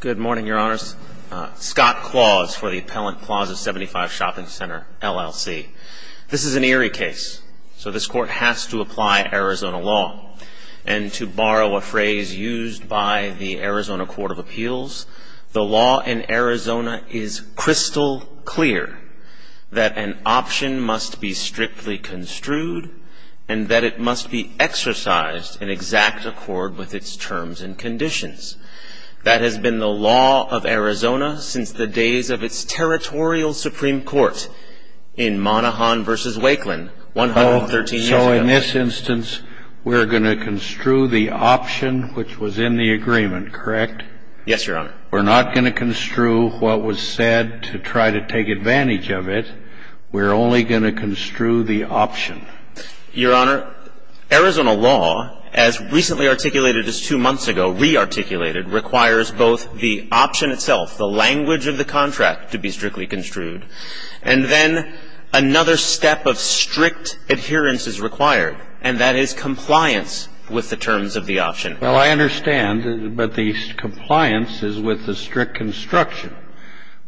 Good morning, Your Honors. Scott Claus for the Appellant Clause of 75 Shopping Center, LLC. This is an eerie case, so this Court has to apply Arizona law. And to borrow a phrase used by the Arizona Court of Appeals, the law in Arizona is crystal clear that an option must be strictly construed and that it must be exercised in exact accord with its terms and conditions. That has been the law of Arizona since the days of its Territorial Supreme Court in Monahan v. Wakeland, 113 years ago. So in this instance, we're going to construe the option which was in the agreement, correct? Yes, Your Honor. We're not going to construe what was said to try to take advantage of it. We're only going to construe the option. Your Honor, Arizona law, as recently articulated as two months ago, re-articulated, requires both the option itself, the language of the contract, to be strictly construed, and then another step of strict adherence is required, and that is compliance with the terms of the option. Well, I understand, but the compliance is with the strict construction.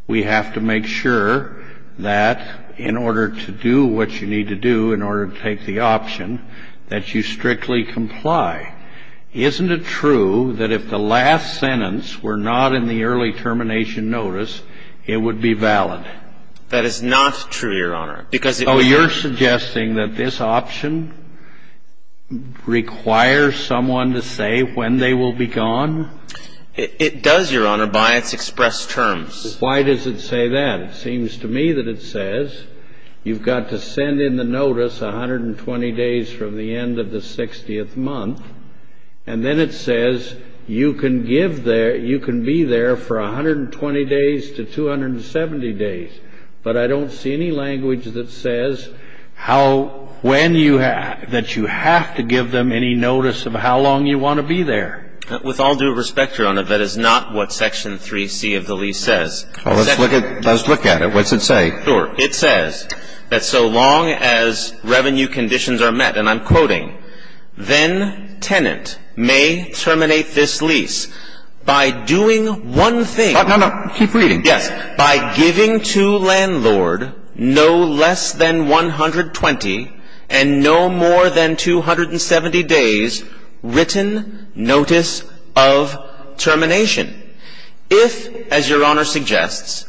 We have to make sure that in order to do what you need to do in order to take the option, that you strictly comply. Isn't it true that if the last sentence were not in the early termination notice, it would be valid? That is not true, Your Honor, because it would be. So you're suggesting that this option requires someone to say when they will be gone? It does, Your Honor, by its expressed terms. Why does it say that? It seems to me that it says you've got to send in the notice 120 days from the end of the 60th month, and then it says you can give there – you can be there for 120 days to 270 days. But I don't see any language that says how – when you – that you have to give them any notice of how long you want to be there. With all due respect, Your Honor, that is not what Section 3C of the lease says. Well, let's look at it. What does it say? Sure. It says that so long as revenue conditions are met, and I'm quoting, then tenant may terminate this lease by doing one thing. No, no. Keep reading. Yes, by giving to landlord no less than 120 and no more than 270 days written notice of termination. If, as Your Honor suggests,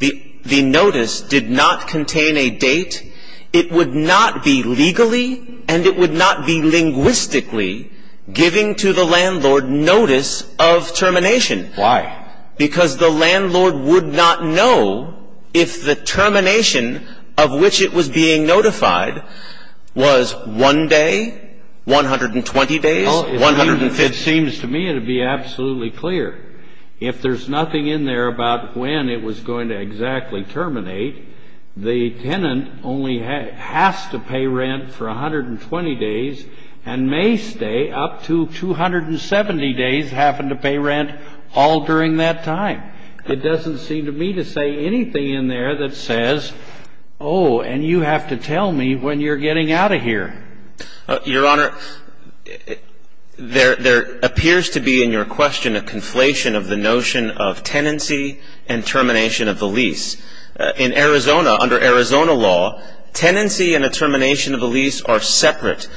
the notice did not contain a date, it would not be legally and it would not be linguistically giving to the landlord notice of termination. Why? Because the landlord would not know if the termination of which it was being notified was one day, 120 days, 150 days. Well, it seems to me it would be absolutely clear. If there's nothing in there about when it was going to exactly terminate, the tenant only has to pay rent for 120 days and may stay up to 270 days having to pay rent all during that time. It doesn't seem to me to say anything in there that says, oh, and you have to tell me when you're getting out of here. Your Honor, there appears to be in your question a conflation of the notion of tenancy and termination of the lease. In Arizona, under Arizona law, tenancy and a termination of the lease are separate.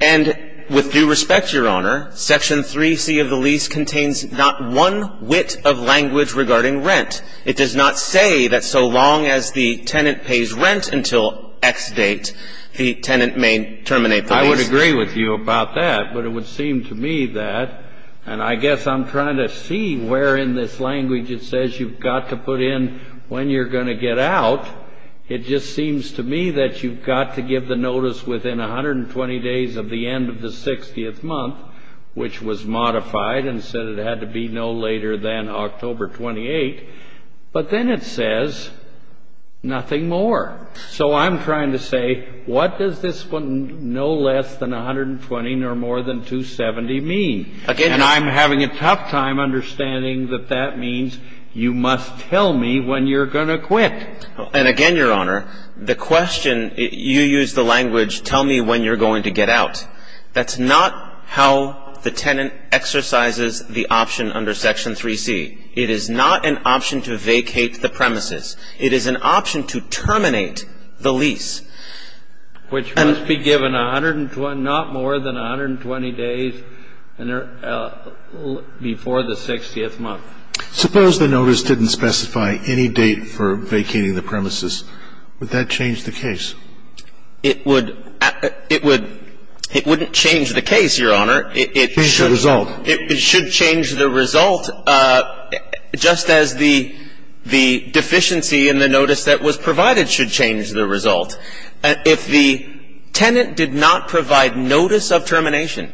And with due respect, Your Honor, Section 3C of the lease contains not one whit of language regarding rent. It does not say that so long as the tenant pays rent until X date, the tenant may terminate the lease. I would agree with you about that, but it would seem to me that, and I guess I'm trying to see where in this language it says you've got to put in when you're going to get out. It just seems to me that you've got to give the notice within 120 days of the end of the 60th month, which was modified and said it had to be no later than October 28. But then it says nothing more. So I'm trying to say, what does this one no less than 120, no more than 270 mean? And I'm having a tough time understanding that that means you must tell me when you're going to quit. And again, Your Honor, the question, you use the language, tell me when you're going to get out. That's not how the tenant exercises the option under Section 3C. It is not an option to vacate the premises. It is an option to terminate the lease. Which must be given 120, not more than 120 days before the 60th month. Suppose the notice didn't specify any date for vacating the premises. Would that change the case? It would. It would. Change the result. It should change the result, just as the deficiency in the notice that was provided should change the result. If the tenant did not provide notice of termination,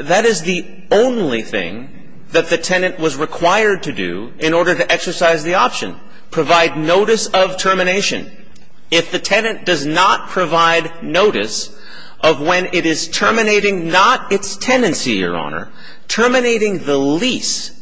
that is the only thing that the tenant was required to do in order to exercise the option, provide notice of termination. If the tenant does not provide notice of when it is terminating not its tenancy, Your Honor, terminating the lease,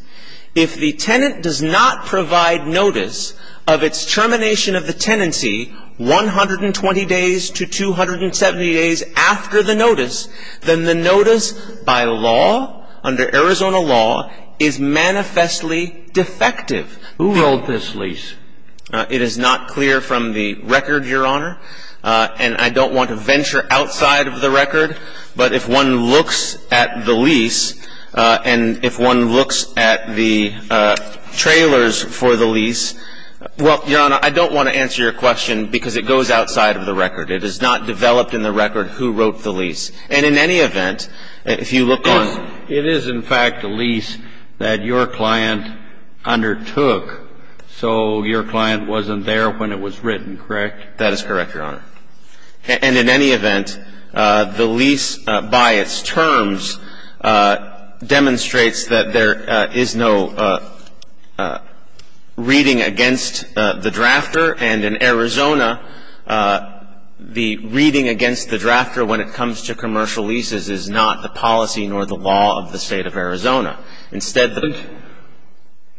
if the tenant does not provide notice of its termination of the tenancy 120 days to 270 days after the notice, then the notice by law, under Arizona law, is manifestly defective. Who wrote this lease? It is not clear from the record, Your Honor. And I don't want to venture outside of the record. But if one looks at the lease and if one looks at the trailers for the lease, well, Your Honor, I don't want to answer your question because it goes outside of the record. It is not developed in the record who wrote the lease. And in any event, if you look on the record. And in any event, the lease by its terms demonstrates that there is no reading against the drafter. And in Arizona, the reading against the drafter when it comes to commercial leases is not the policy nor the law of the State of Arizona.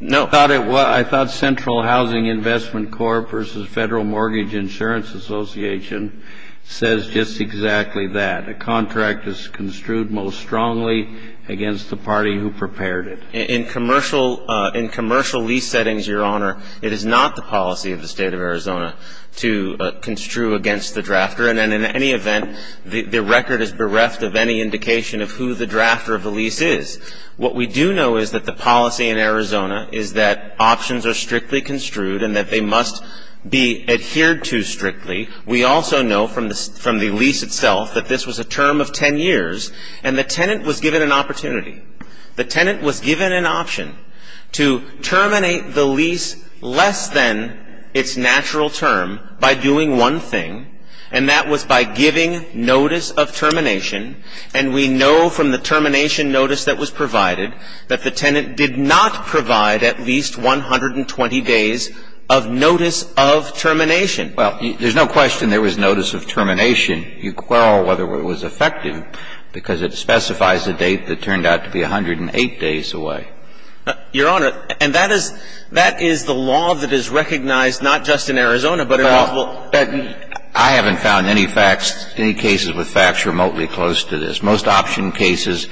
No. I thought it was. I thought Central Housing Investment Corp. versus Federal Mortgage Insurance Association says just exactly that. A contract is construed most strongly against the party who prepared it. In commercial lease settings, Your Honor, it is not the policy of the State of Arizona to construe against the drafter. And in any event, the record is bereft of any indication of who the drafter of the lease is. What we do know is that the policy in Arizona is that options are strictly construed and that they must be adhered to strictly. We also know from the lease itself that this was a term of 10 years and the tenant was given an opportunity. The tenant was given an option to terminate the lease less than its natural term by doing one thing, and that was by giving notice of termination. And we know from the termination notice that was provided that the tenant did not provide at least 120 days of notice of termination. Well, there's no question there was notice of termination. You quell whether it was effective because it specifies a date that turned out to be 108 days away. Your Honor, and that is the law that is recognized not just in Arizona, but in all states. But I haven't found any facts, any cases with facts remotely close to this. Most option cases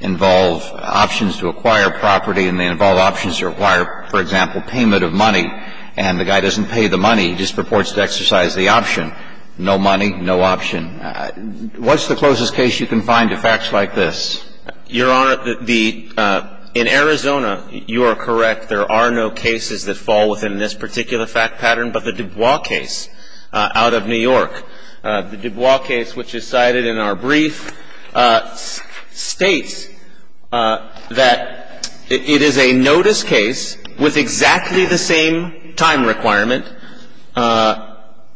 involve options to acquire property and they involve options to acquire, for example, payment of money. And the guy doesn't pay the money. He just purports to exercise the option. No money, no option. What's the closest case you can find to facts like this? Your Honor, the – in Arizona, you are correct. There are no cases that fall within this particular fact pattern, but the Dubois case out of New York. The Dubois case, which is cited in our brief, states that it is a notice case with exactly the same time requirement.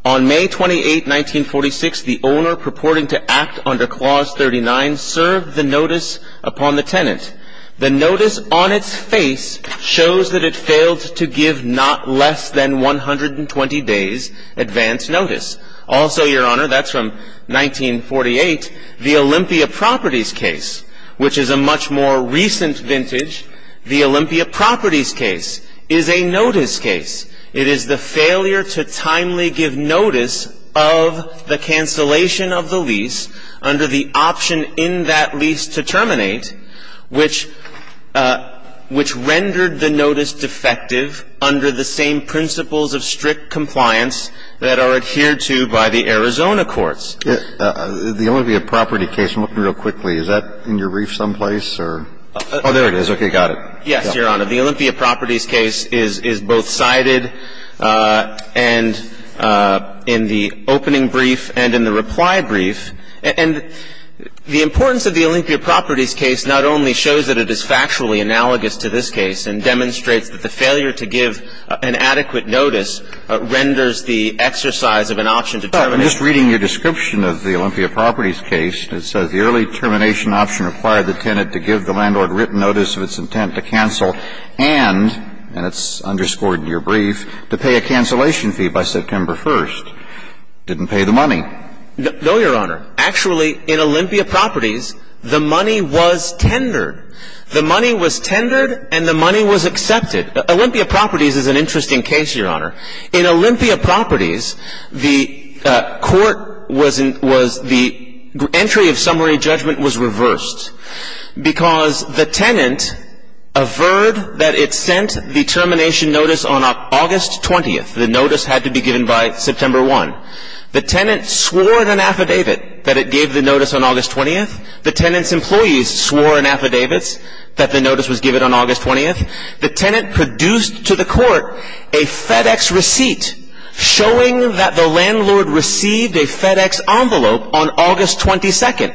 On May 28, 1946, the owner purporting to act under Clause 39 served the notice upon the tenant. The notice on its face shows that it failed to give not less than 120 days advance notice. Also, Your Honor, that's from 1948, the Olympia Properties case, which is a much more recent vintage. The Olympia Properties case is a notice case. It is the failure to timely give notice of the cancellation of the lease under the option in that lease to terminate, which rendered the notice defective under the same principles of strict compliance that are adhered to by the Arizona courts. The Olympia Properties case, real quickly, is that in your brief someplace or – oh, there it is. Got it. Yes, Your Honor. The Olympia Properties case is both cited and in the opening brief and in the reply brief, and the importance of the Olympia Properties case not only shows that it is factually analogous to this case and demonstrates that the failure to give an adequate notice renders the exercise of an option to terminate. I'm just reading your description of the Olympia Properties case. It says the early termination option required the tenant to give the landlord written notice of its intent to cancel and, and it's underscored in your brief, to pay a cancellation fee by September 1st. Didn't pay the money. No, Your Honor. Actually, in Olympia Properties, the money was tendered. The money was tendered and the money was accepted. Olympia Properties is an interesting case, Your Honor. In Olympia Properties, the court was – the entry of summary judgment was reversed because the tenant averred that it sent the termination notice on August 20th. The notice had to be given by September 1. The tenant swore an affidavit that it gave the notice on August 20th. The tenant's employees swore an affidavit that the notice was given on August 20th. The tenant produced to the court a FedEx receipt showing that the landlord received a FedEx envelope on August 22nd.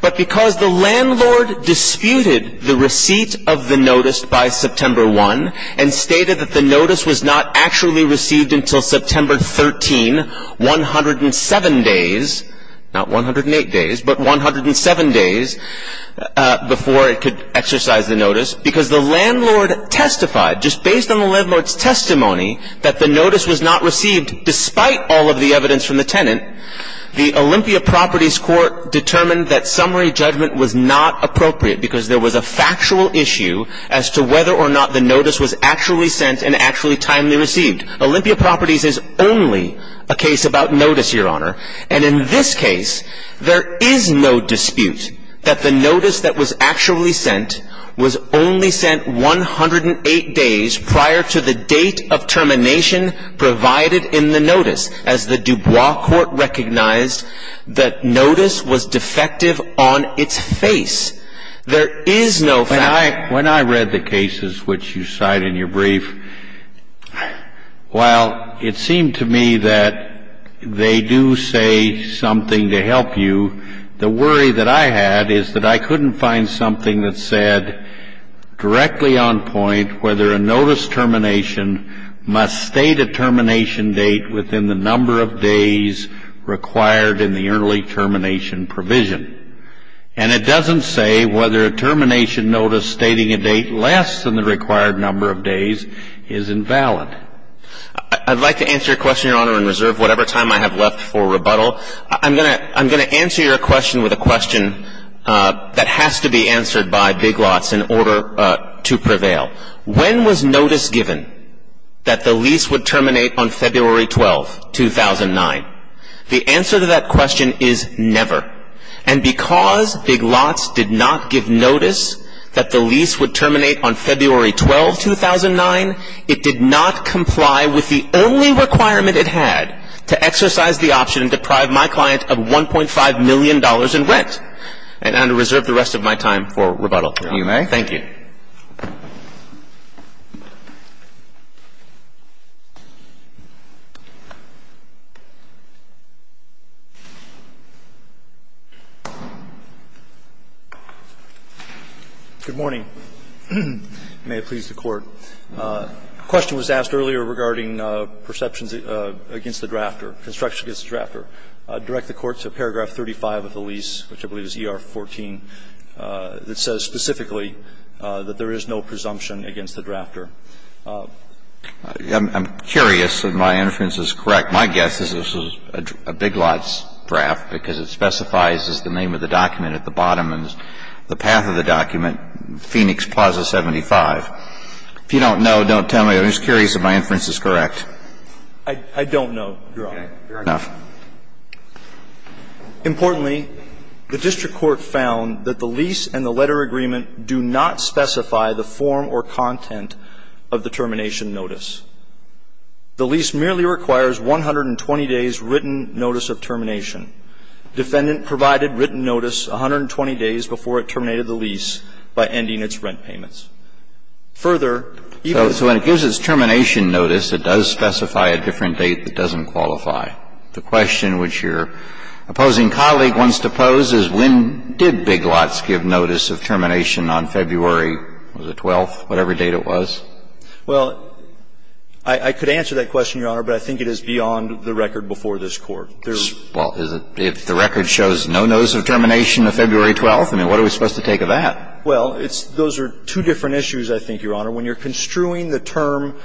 But because the landlord disputed the receipt of the notice by September 1 and stated that the notice was not actually received until September 13, 107 days – not 108 days, but just based on the landlord's testimony that the notice was not received despite all of the evidence from the tenant, the Olympia Properties court determined that summary judgment was not appropriate because there was a factual issue as to whether or not the notice was actually sent and actually timely received. Olympia Properties is only a case about notice, Your Honor. And in this case, there is no dispute that the notice that was actually sent was only sent 108 days prior to the date of termination provided in the notice, as the DuBois court recognized that notice was defective on its face. There is no factuality. When I read the cases which you cite in your brief, while it seemed to me that they do say something to help you, the worry that I had is that I couldn't find something that said directly on point whether a notice termination must state a termination date within the number of days required in the early termination provision. And it doesn't say whether a termination notice stating a date less than the required number of days is invalid. I'd like to answer your question, Your Honor, in reserve whatever time I have left for rebuttal. I'm going to answer your question with a question that has to be answered by Big Lots in order to prevail. When was notice given that the lease would terminate on February 12, 2009? The answer to that question is never. And because Big Lots did not give notice that the lease would terminate on February 12, 2009, it did not comply with the only requirement it had to exercise the option to deprive my client of $1.5 million in rent. And I'm going to reserve the rest of my time for rebuttal. If you may. Thank you. Roberts. Good morning. May it please the Court. A question was asked earlier regarding perceptions against the drafter, construction against the drafter. I'd direct the Court to paragraph 35 of the lease, which I believe is ER 14, that there is no presumption against the drafter. I'm curious if my inference is correct. My guess is this is a Big Lots draft because it specifies the name of the document at the bottom and the path of the document, Phoenix Plaza 75. If you don't know, don't tell me. I'm just curious if my inference is correct. I don't know, Your Honor. Okay. Fair enough. Importantly, the district court found that the lease and the letter agreement do not specify the form or content of the termination notice. The lease merely requires 120 days' written notice of termination. Defendant provided written notice 120 days before it terminated the lease by ending its rent payments. Further, even so when it gives its termination notice, it does specify a different date that doesn't qualify. The question which your opposing colleague wants to pose is when did Big Lots give the notice of termination on February the 12th, whatever date it was? Well, I could answer that question, Your Honor, but I think it is beyond the record before this Court. Well, if the record shows no notice of termination of February 12th, I mean, what are we supposed to take of that? Well, it's those are two different issues, I think, Your Honor. When you're construing the term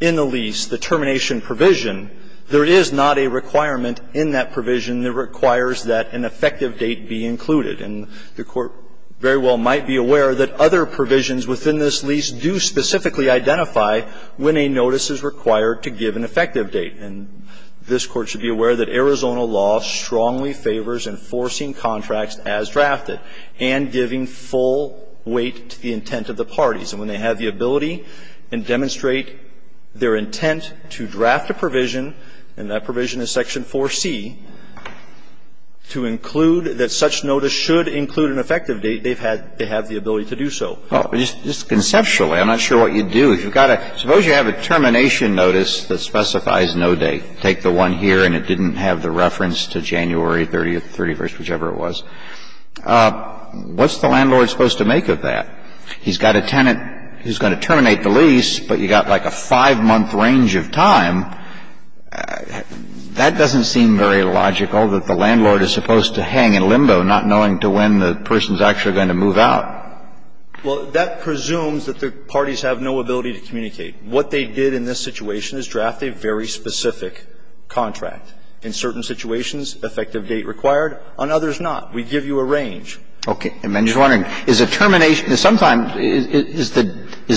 in the lease, the termination provision, there is not a requirement in that provision that requires that an effective date be included. And the Court very well might be aware that other provisions within this lease do specifically identify when a notice is required to give an effective date. And this Court should be aware that Arizona law strongly favors enforcing contracts as drafted and giving full weight to the intent of the parties. And when they have the ability and demonstrate their intent to draft a provision, and that provision is Section 4C, to include that such notice should include an effective date, they have the ability to do so. Just conceptually, I'm not sure what you'd do. Suppose you have a termination notice that specifies no date. Take the one here and it didn't have the reference to January 30th, 31st, whichever it was. What's the landlord supposed to make of that? He's got a tenant who's going to terminate the lease, but you've got like a five-month range of time. That doesn't seem very logical, that the landlord is supposed to hang in limbo, not knowing to when the person is actually going to move out. Well, that presumes that the parties have no ability to communicate. What they did in this situation is draft a very specific contract. In certain situations, effective date required. On others not. We give you a range. Okay. I'm just wondering, is a termination at some time, is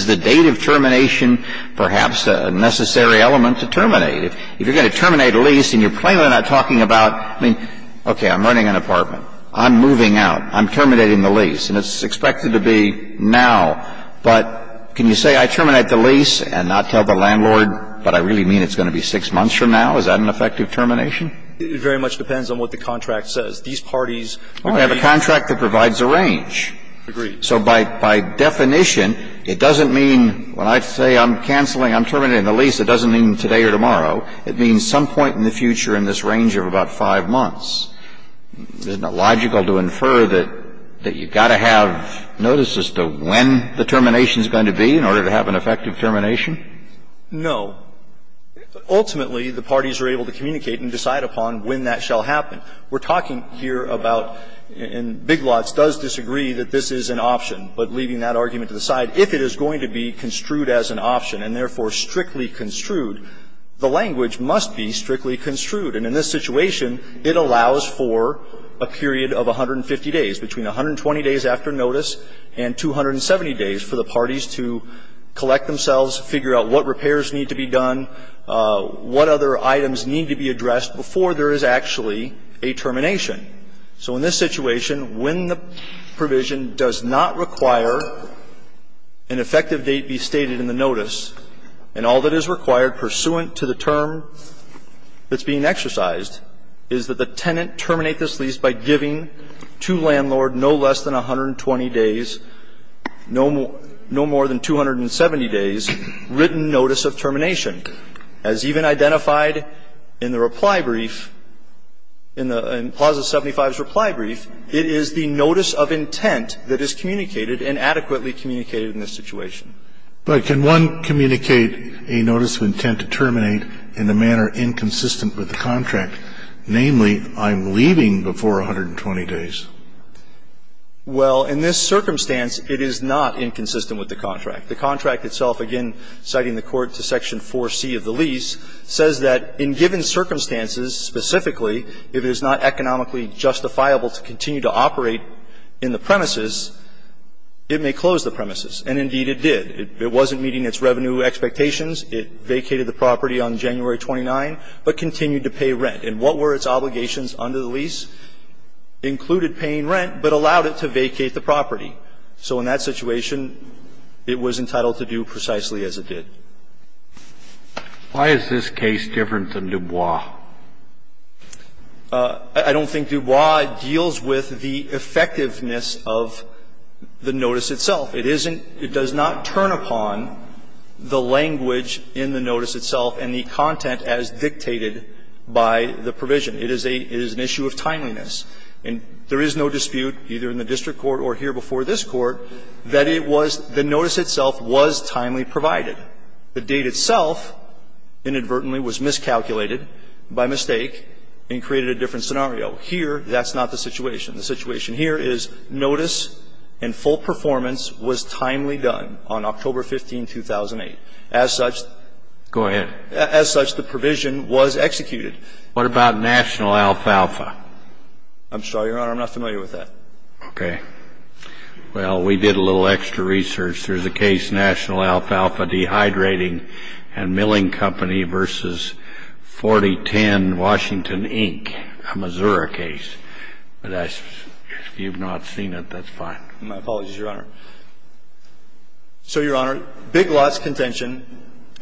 the date of termination perhaps a necessary element to terminate? If you're going to terminate a lease and you're plainly not talking about, I mean, okay, I'm renting an apartment. I'm moving out. I'm terminating the lease. And it's expected to be now. But can you say I terminate the lease and not tell the landlord, but I really mean it's going to be six months from now? Is that an effective termination? It very much depends on what the contract says. These parties agree. Well, they have a contract that provides a range. Agree. So by definition, it doesn't mean when I say I'm canceling, I'm terminating the lease, it doesn't mean today or tomorrow. It means some point in the future in this range of about five months. Isn't it logical to infer that you've got to have notices as to when the termination is going to be in order to have an effective termination? No. Ultimately, the parties are able to communicate and decide upon when that shall happen. We're talking here about and Big Lots does disagree that this is an option. But leaving that argument to the side, if it is going to be construed as an option and therefore strictly construed, the language must be strictly construed. And in this situation, it allows for a period of 150 days, between 120 days after notice and 270 days for the parties to collect themselves, figure out what repairs need to be done, what other items need to be addressed before there is actually a termination. So in this situation, when the provision does not require an effective date be stated in the notice, and all that is required pursuant to the term that's being exercised, is that the tenant terminate this lease by giving to landlord no less than 120 days, no more than 270 days, written notice of termination. As even identified in the reply brief, in the clause of 75's reply brief, it is the notice of intent that is communicated and adequately communicated in this situation. But can one communicate a notice of intent to terminate in a manner inconsistent with the contract, namely, I'm leaving before 120 days? Well, in this circumstance, it is not inconsistent with the contract. The contract itself, again, citing the court to Section 4C of the lease, says that in given circumstances, specifically, if it is not economically justifiable to continue to operate in the premises, it may close the premises. And indeed, it did. It wasn't meeting its revenue expectations. It vacated the property on January 29, but continued to pay rent. And what were its obligations under the lease? Included paying rent, but allowed it to vacate the property. So in that situation, it was entitled to do precisely as it did. Why is this case different than Dubois? I don't think Dubois deals with the effectiveness of the notice itself. It isn't – it does not turn upon the language in the notice itself and the content as dictated by the provision. It is a – it is an issue of timeliness. And there is no dispute, either in the district court or here before this Court, that it was – the notice itself was timely provided. The date itself, inadvertently, was miscalculated by mistake and created a different scenario. Here, that's not the situation. The situation here is notice and full performance was timely done on October 15, 2008. As such, the provision was executed. What about National Alfalfa? I'm sorry, Your Honor, I'm not familiar with that. Okay. Well, we did a little extra research. There's a case, National Alfalfa Dehydrating and Milling Company v. 4010, Washington, Inc., a Missouri case. But if you've not seen it, that's fine. My apologies, Your Honor. So, Your Honor, Big Lot's contention,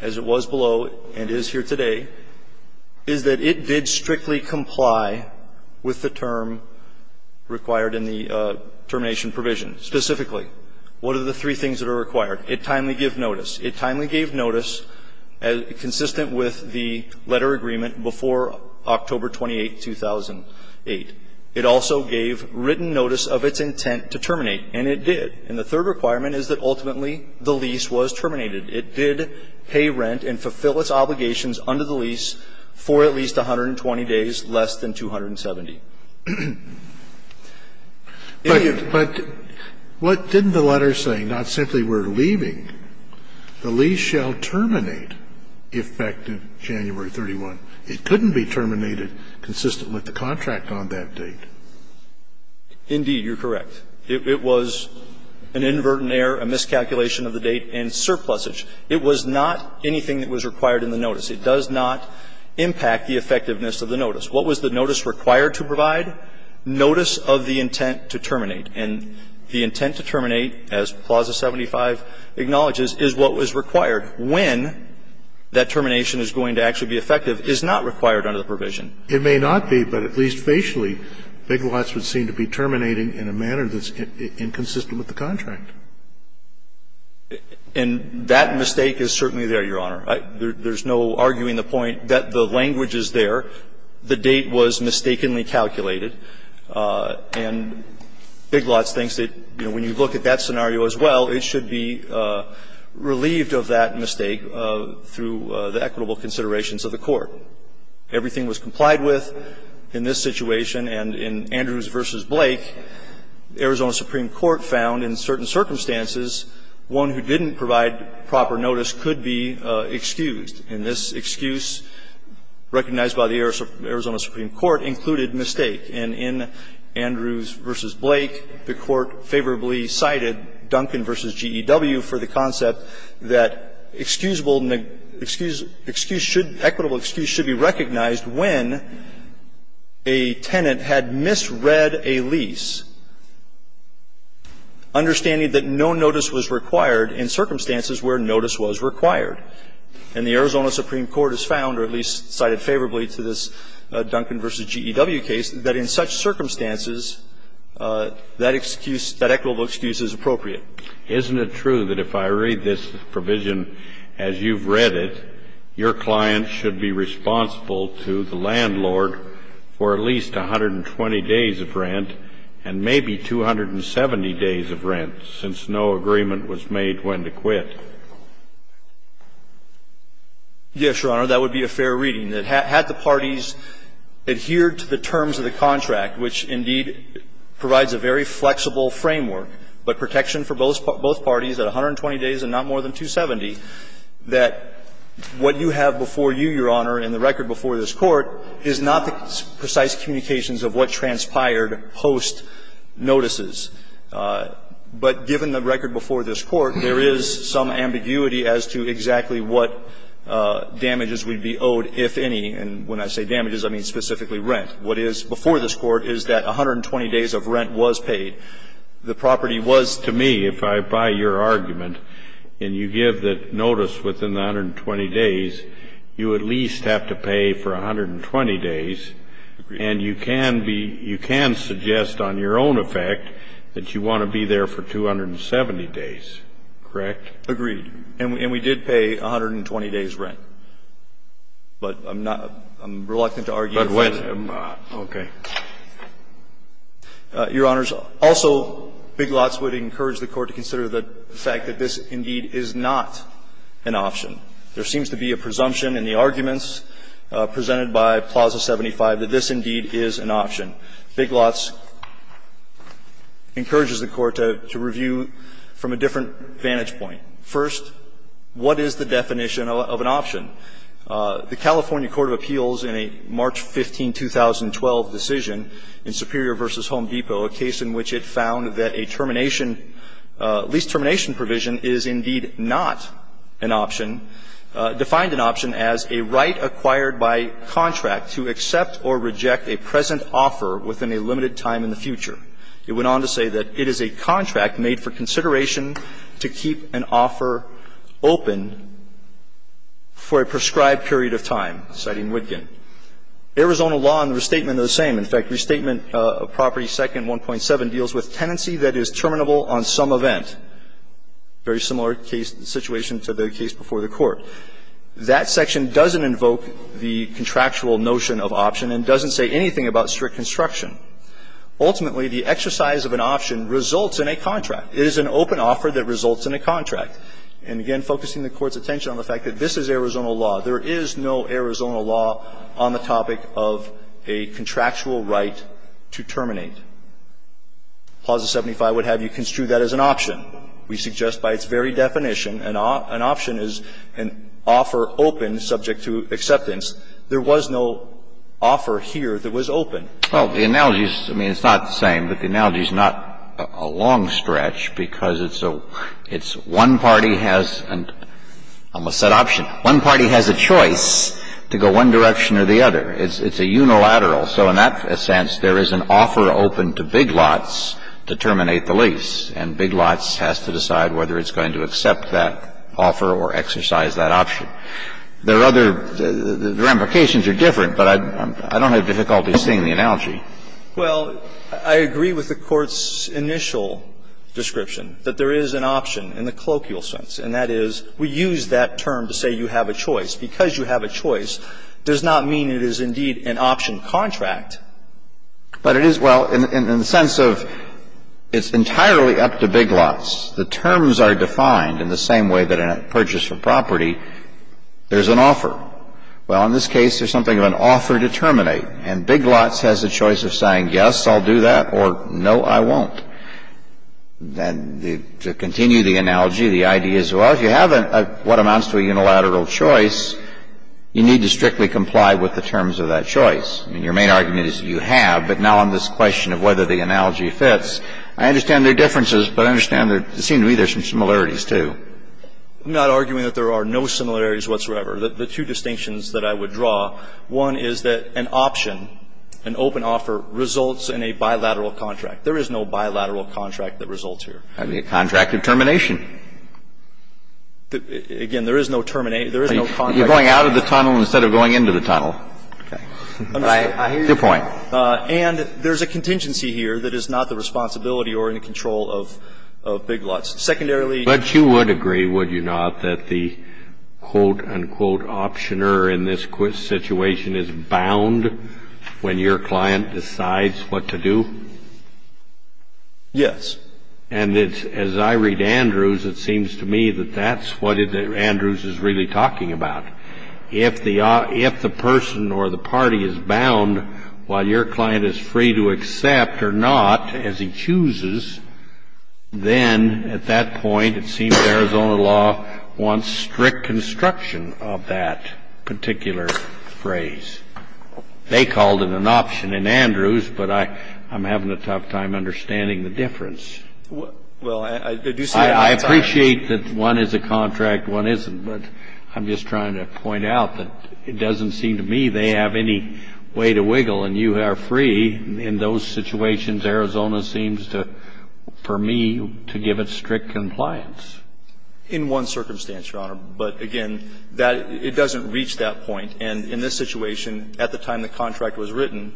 as it was below and is here today, is that if it did strictly comply with the term required in the termination provision, specifically, what are the three things that are required? It timely gave notice. It timely gave notice consistent with the letter agreement before October 28, 2008. It also gave written notice of its intent to terminate, and it did. And the third requirement is that ultimately the lease was terminated. It did pay rent and fulfill its obligations under the lease for at least 120 days, less than 270. Scalia. But what didn't the letter say? Not simply we're leaving. The lease shall terminate effective January 31. It couldn't be terminated consistent with the contract on that date. Indeed, you're correct. It was an inadvertent error, a miscalculation of the date, and surplusage. It was not anything that was required in the notice. It does not impact the effectiveness of the notice. What was the notice required to provide? Notice of the intent to terminate. And the intent to terminate, as Clause 75 acknowledges, is what was required when that termination is going to actually be effective, is not required under the contract. It may not be, but at least facially, Big Lots would seem to be terminating in a manner that's inconsistent with the contract. And that mistake is certainly there, Your Honor. There's no arguing the point that the language is there. The date was mistakenly calculated, and Big Lots thinks that, you know, when you look at that scenario as well, it should be relieved of that mistake through the equitable considerations of the court. Everything was complied with in this situation. And in Andrews v. Blake, Arizona Supreme Court found in certain circumstances one who didn't provide proper notice could be excused. And this excuse recognized by the Arizona Supreme Court included mistake. And in Andrews v. Blake, the Court favorably cited Duncan v. GEW for the concept that excusable excuse should be recognized when a tenant had misread a lease, understanding that no notice was required in circumstances where notice was required. And the Arizona Supreme Court has found, or at least cited favorably to this Duncan v. GEW case, that in such circumstances that excuse, that equitable excuse is appropriate. Kennedy, is it true that if I read this provision as you've read it, your client should be responsible to the landlord for at least 120 days of rent and maybe 270 days of rent, since no agreement was made when to quit? Yes, Your Honor, that would be a fair reading. Had the parties adhered to the terms of the contract, which indeed provides a very fair reading to both parties, that 120 days and not more than 270, that what you have before you, Your Honor, in the record before this Court is not the precise communications of what transpired post notices. But given the record before this Court, there is some ambiguity as to exactly what damages would be owed, if any. And when I say damages, I mean specifically rent. What is before this Court is that 120 days of rent was paid. The property was to me, if I buy your argument and you give the notice within the 120 days, you at least have to pay for 120 days, and you can be you can suggest on your own effect that you want to be there for 270 days, correct? Agreed. And we did pay 120 days' rent. But I'm not reluctant to argue that. But when? Okay. Your Honors, also, Big Lots would encourage the Court to consider the fact that this indeed is not an option. There seems to be a presumption in the arguments presented by Plaza 75 that this indeed is an option. Big Lots encourages the Court to review from a different vantage point. First, what is the definition of an option? The California Court of Appeals in a March 15, 2012 decision in Superior v. Home Depot, a case in which it found that a termination, lease termination provision is indeed not an option, defined an option as a right acquired by contract to accept or reject a present offer within a limited time in the future. It went on to say that it is a contract made for consideration to keep an offer open for a prescribed period of time, citing Wittgen. Arizona law and the restatement are the same. In fact, Restatement of Property 2nd.1.7 deals with tenancy that is terminable on some event. Very similar case situation to the case before the Court. That section doesn't invoke the contractual notion of option and doesn't say anything about strict construction. Ultimately, the exercise of an option results in a contract. It is an open offer that results in a contract. And again, focusing the Court's attention on the fact that this is Arizona law. There is no Arizona law on the topic of a contractual right to terminate. Clause 75 would have you construe that as an option. We suggest by its very definition, an option is an offer open subject to acceptance. There was no offer here that was open. Well, the analogy is, I mean, it's not the same, but the analogy is not a long stretch because it's a one party has a set option. One party has a choice to go one direction or the other. It's a unilateral. So in that sense, there is an offer open to big lots to terminate the lease. And big lots has to decide whether it's going to accept that offer or exercise that option. There are other, the ramifications are different, but I don't have difficulty seeing the analogy. Well, I agree with the Court's initial description that there is an option in the colloquial sense, and that is, we use that term to say you have a choice. Because you have a choice does not mean it is indeed an option contract. But it is, well, in the sense of it's entirely up to big lots. The terms are defined in the same way that in a purchase of property there's an offer. Well, in this case, there's something of an offer to terminate, and big lots has a choice of saying, yes, I'll do that, or, no, I won't. And to continue the analogy, the idea is, well, if you have what amounts to a unilateral choice, you need to strictly comply with the terms of that choice. And your main argument is you have, but now on this question of whether the analogy fits, I understand there are differences, but I understand there seem to be there are some similarities, too. I'm not arguing that there are no similarities whatsoever. The two distinctions that I would draw, one is that an option, an open offer, results in a bilateral contract. There is no bilateral contract that results here. I mean, a contract of termination. Again, there is no terminate, there is no contract of termination. You're going out of the tunnel instead of going into the tunnel. Okay. I understand. I hear you. Good point. And there's a contingency here that is not the responsibility or in control of big lots. Secondarily, But you would agree, would you not, that the quote, unquote, optioner in this situation is bound when your client decides what to do? Yes. And as I read Andrews, it seems to me that that's what Andrews is really talking about. If the person or the party is bound while your client is free to accept or not as he chooses, then at that point, it seems the Arizona law wants strict construction of that particular phrase. They called it an option in Andrews, but I'm having a tough time understanding the difference. Well, I do say that. I appreciate that one is a contract, one isn't. But I'm just trying to point out that it doesn't seem to me they have any way to wiggle, and you are free. In those situations, Arizona seems to, for me, to give it strict compliance. In one circumstance, Your Honor. But again, it doesn't reach that point. And in this situation, at the time the contract was written,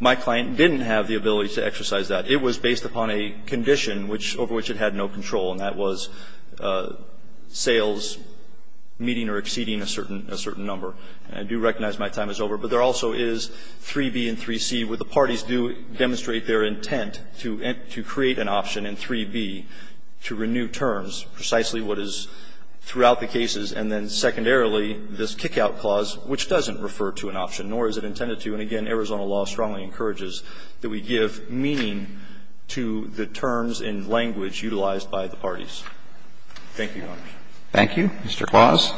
my client didn't have the ability to exercise that. It was based upon a condition over which it had no control, and that was sales meeting or exceeding a certain number. I do recognize my time is over, but there also is 3B and 3C where the parties do demonstrate their intent to create an option in 3B to renew terms, precisely what is throughout the cases, and then secondarily, this kick-out clause, which doesn't refer to an option, nor is it intended to. And again, Arizona law strongly encourages that we give meaning to the terms and language utilized by the parties. Thank you, Your Honors. Thank you. Mr. Claus.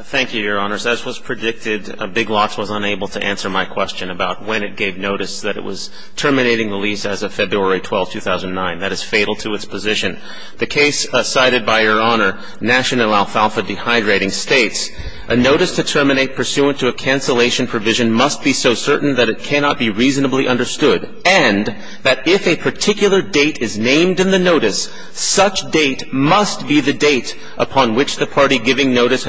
Thank you, Your Honors. As was predicted, Big Lots was unable to answer my question about when it gave notice that it was terminating the lease as of February 12, 2009. That is fatal to its position. The case cited by Your Honor, National Alfalfa Dehydrating, states, a notice to terminate pursuant to a cancellation provision must be so certain that it cannot be reasonably understood and that if a particular date is named in the notice, such date must be the date that was given in the notice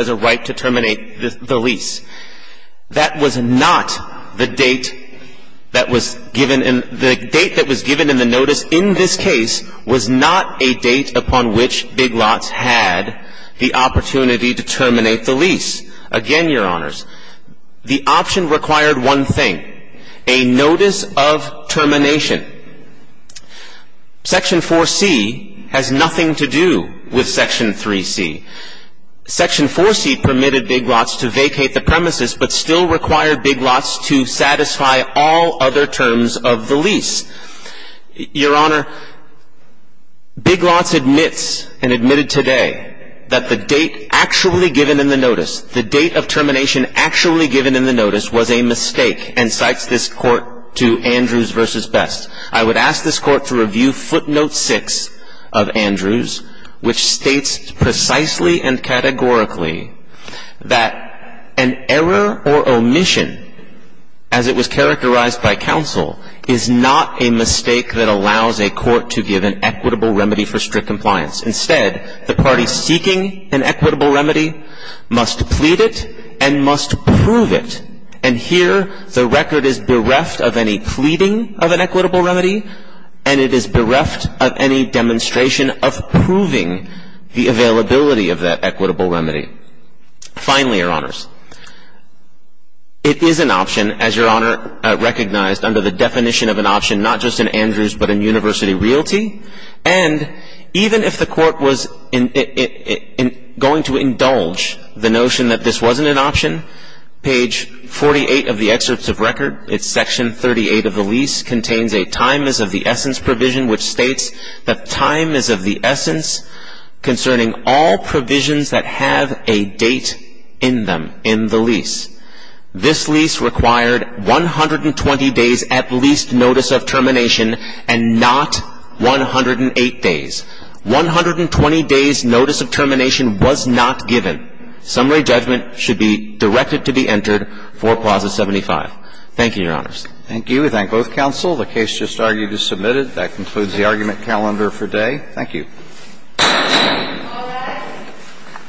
in this case was not a date upon which Big Lots had the opportunity to terminate the lease. Again, Your Honors, the option required one thing, a notice of termination. Section 4C has nothing to do with Section 3C. Section 4C permitted Big Lots to vacate the premises but still required Big Lots to satisfy all other terms of the lease. Your Honor, Big Lots admits and admitted today that the date actually given in the notice, the date of termination actually given in the notice was a mistake and cites this court to Andrews v. Best. I would ask this court to review footnote 6 of Andrews, which states precisely and categorically that an error or omission, as it was characterized by counsel, is not a mistake that allows a court to give an equitable remedy for strict compliance. Instead, the party seeking an equitable remedy must plead it and must prove it. And here, the record is bereft of any pleading of an equitable remedy and it is bereft of any demonstration of proving the availability of that equitable remedy. Finally, Your Honors, it is an option, as Your Honor recognized under the definition of an option, not just in Andrews but in University Realty, and even if the court was going to do that, it would be an exception. Section 38 of the lease contains a time is of the essence provision, which states that time is of the essence concerning all provisions that have a date in them, in the lease. This lease required 120 days at least notice of termination and not 108 days. One hundred and twenty days notice of termination was not given. Summary judgment should be directed to be entered for Clause 75. Thank you, Your Honors. Thank you. We thank both counsel. The case just argued is submitted. That concludes the argument calendar for today. Thank you. All rise.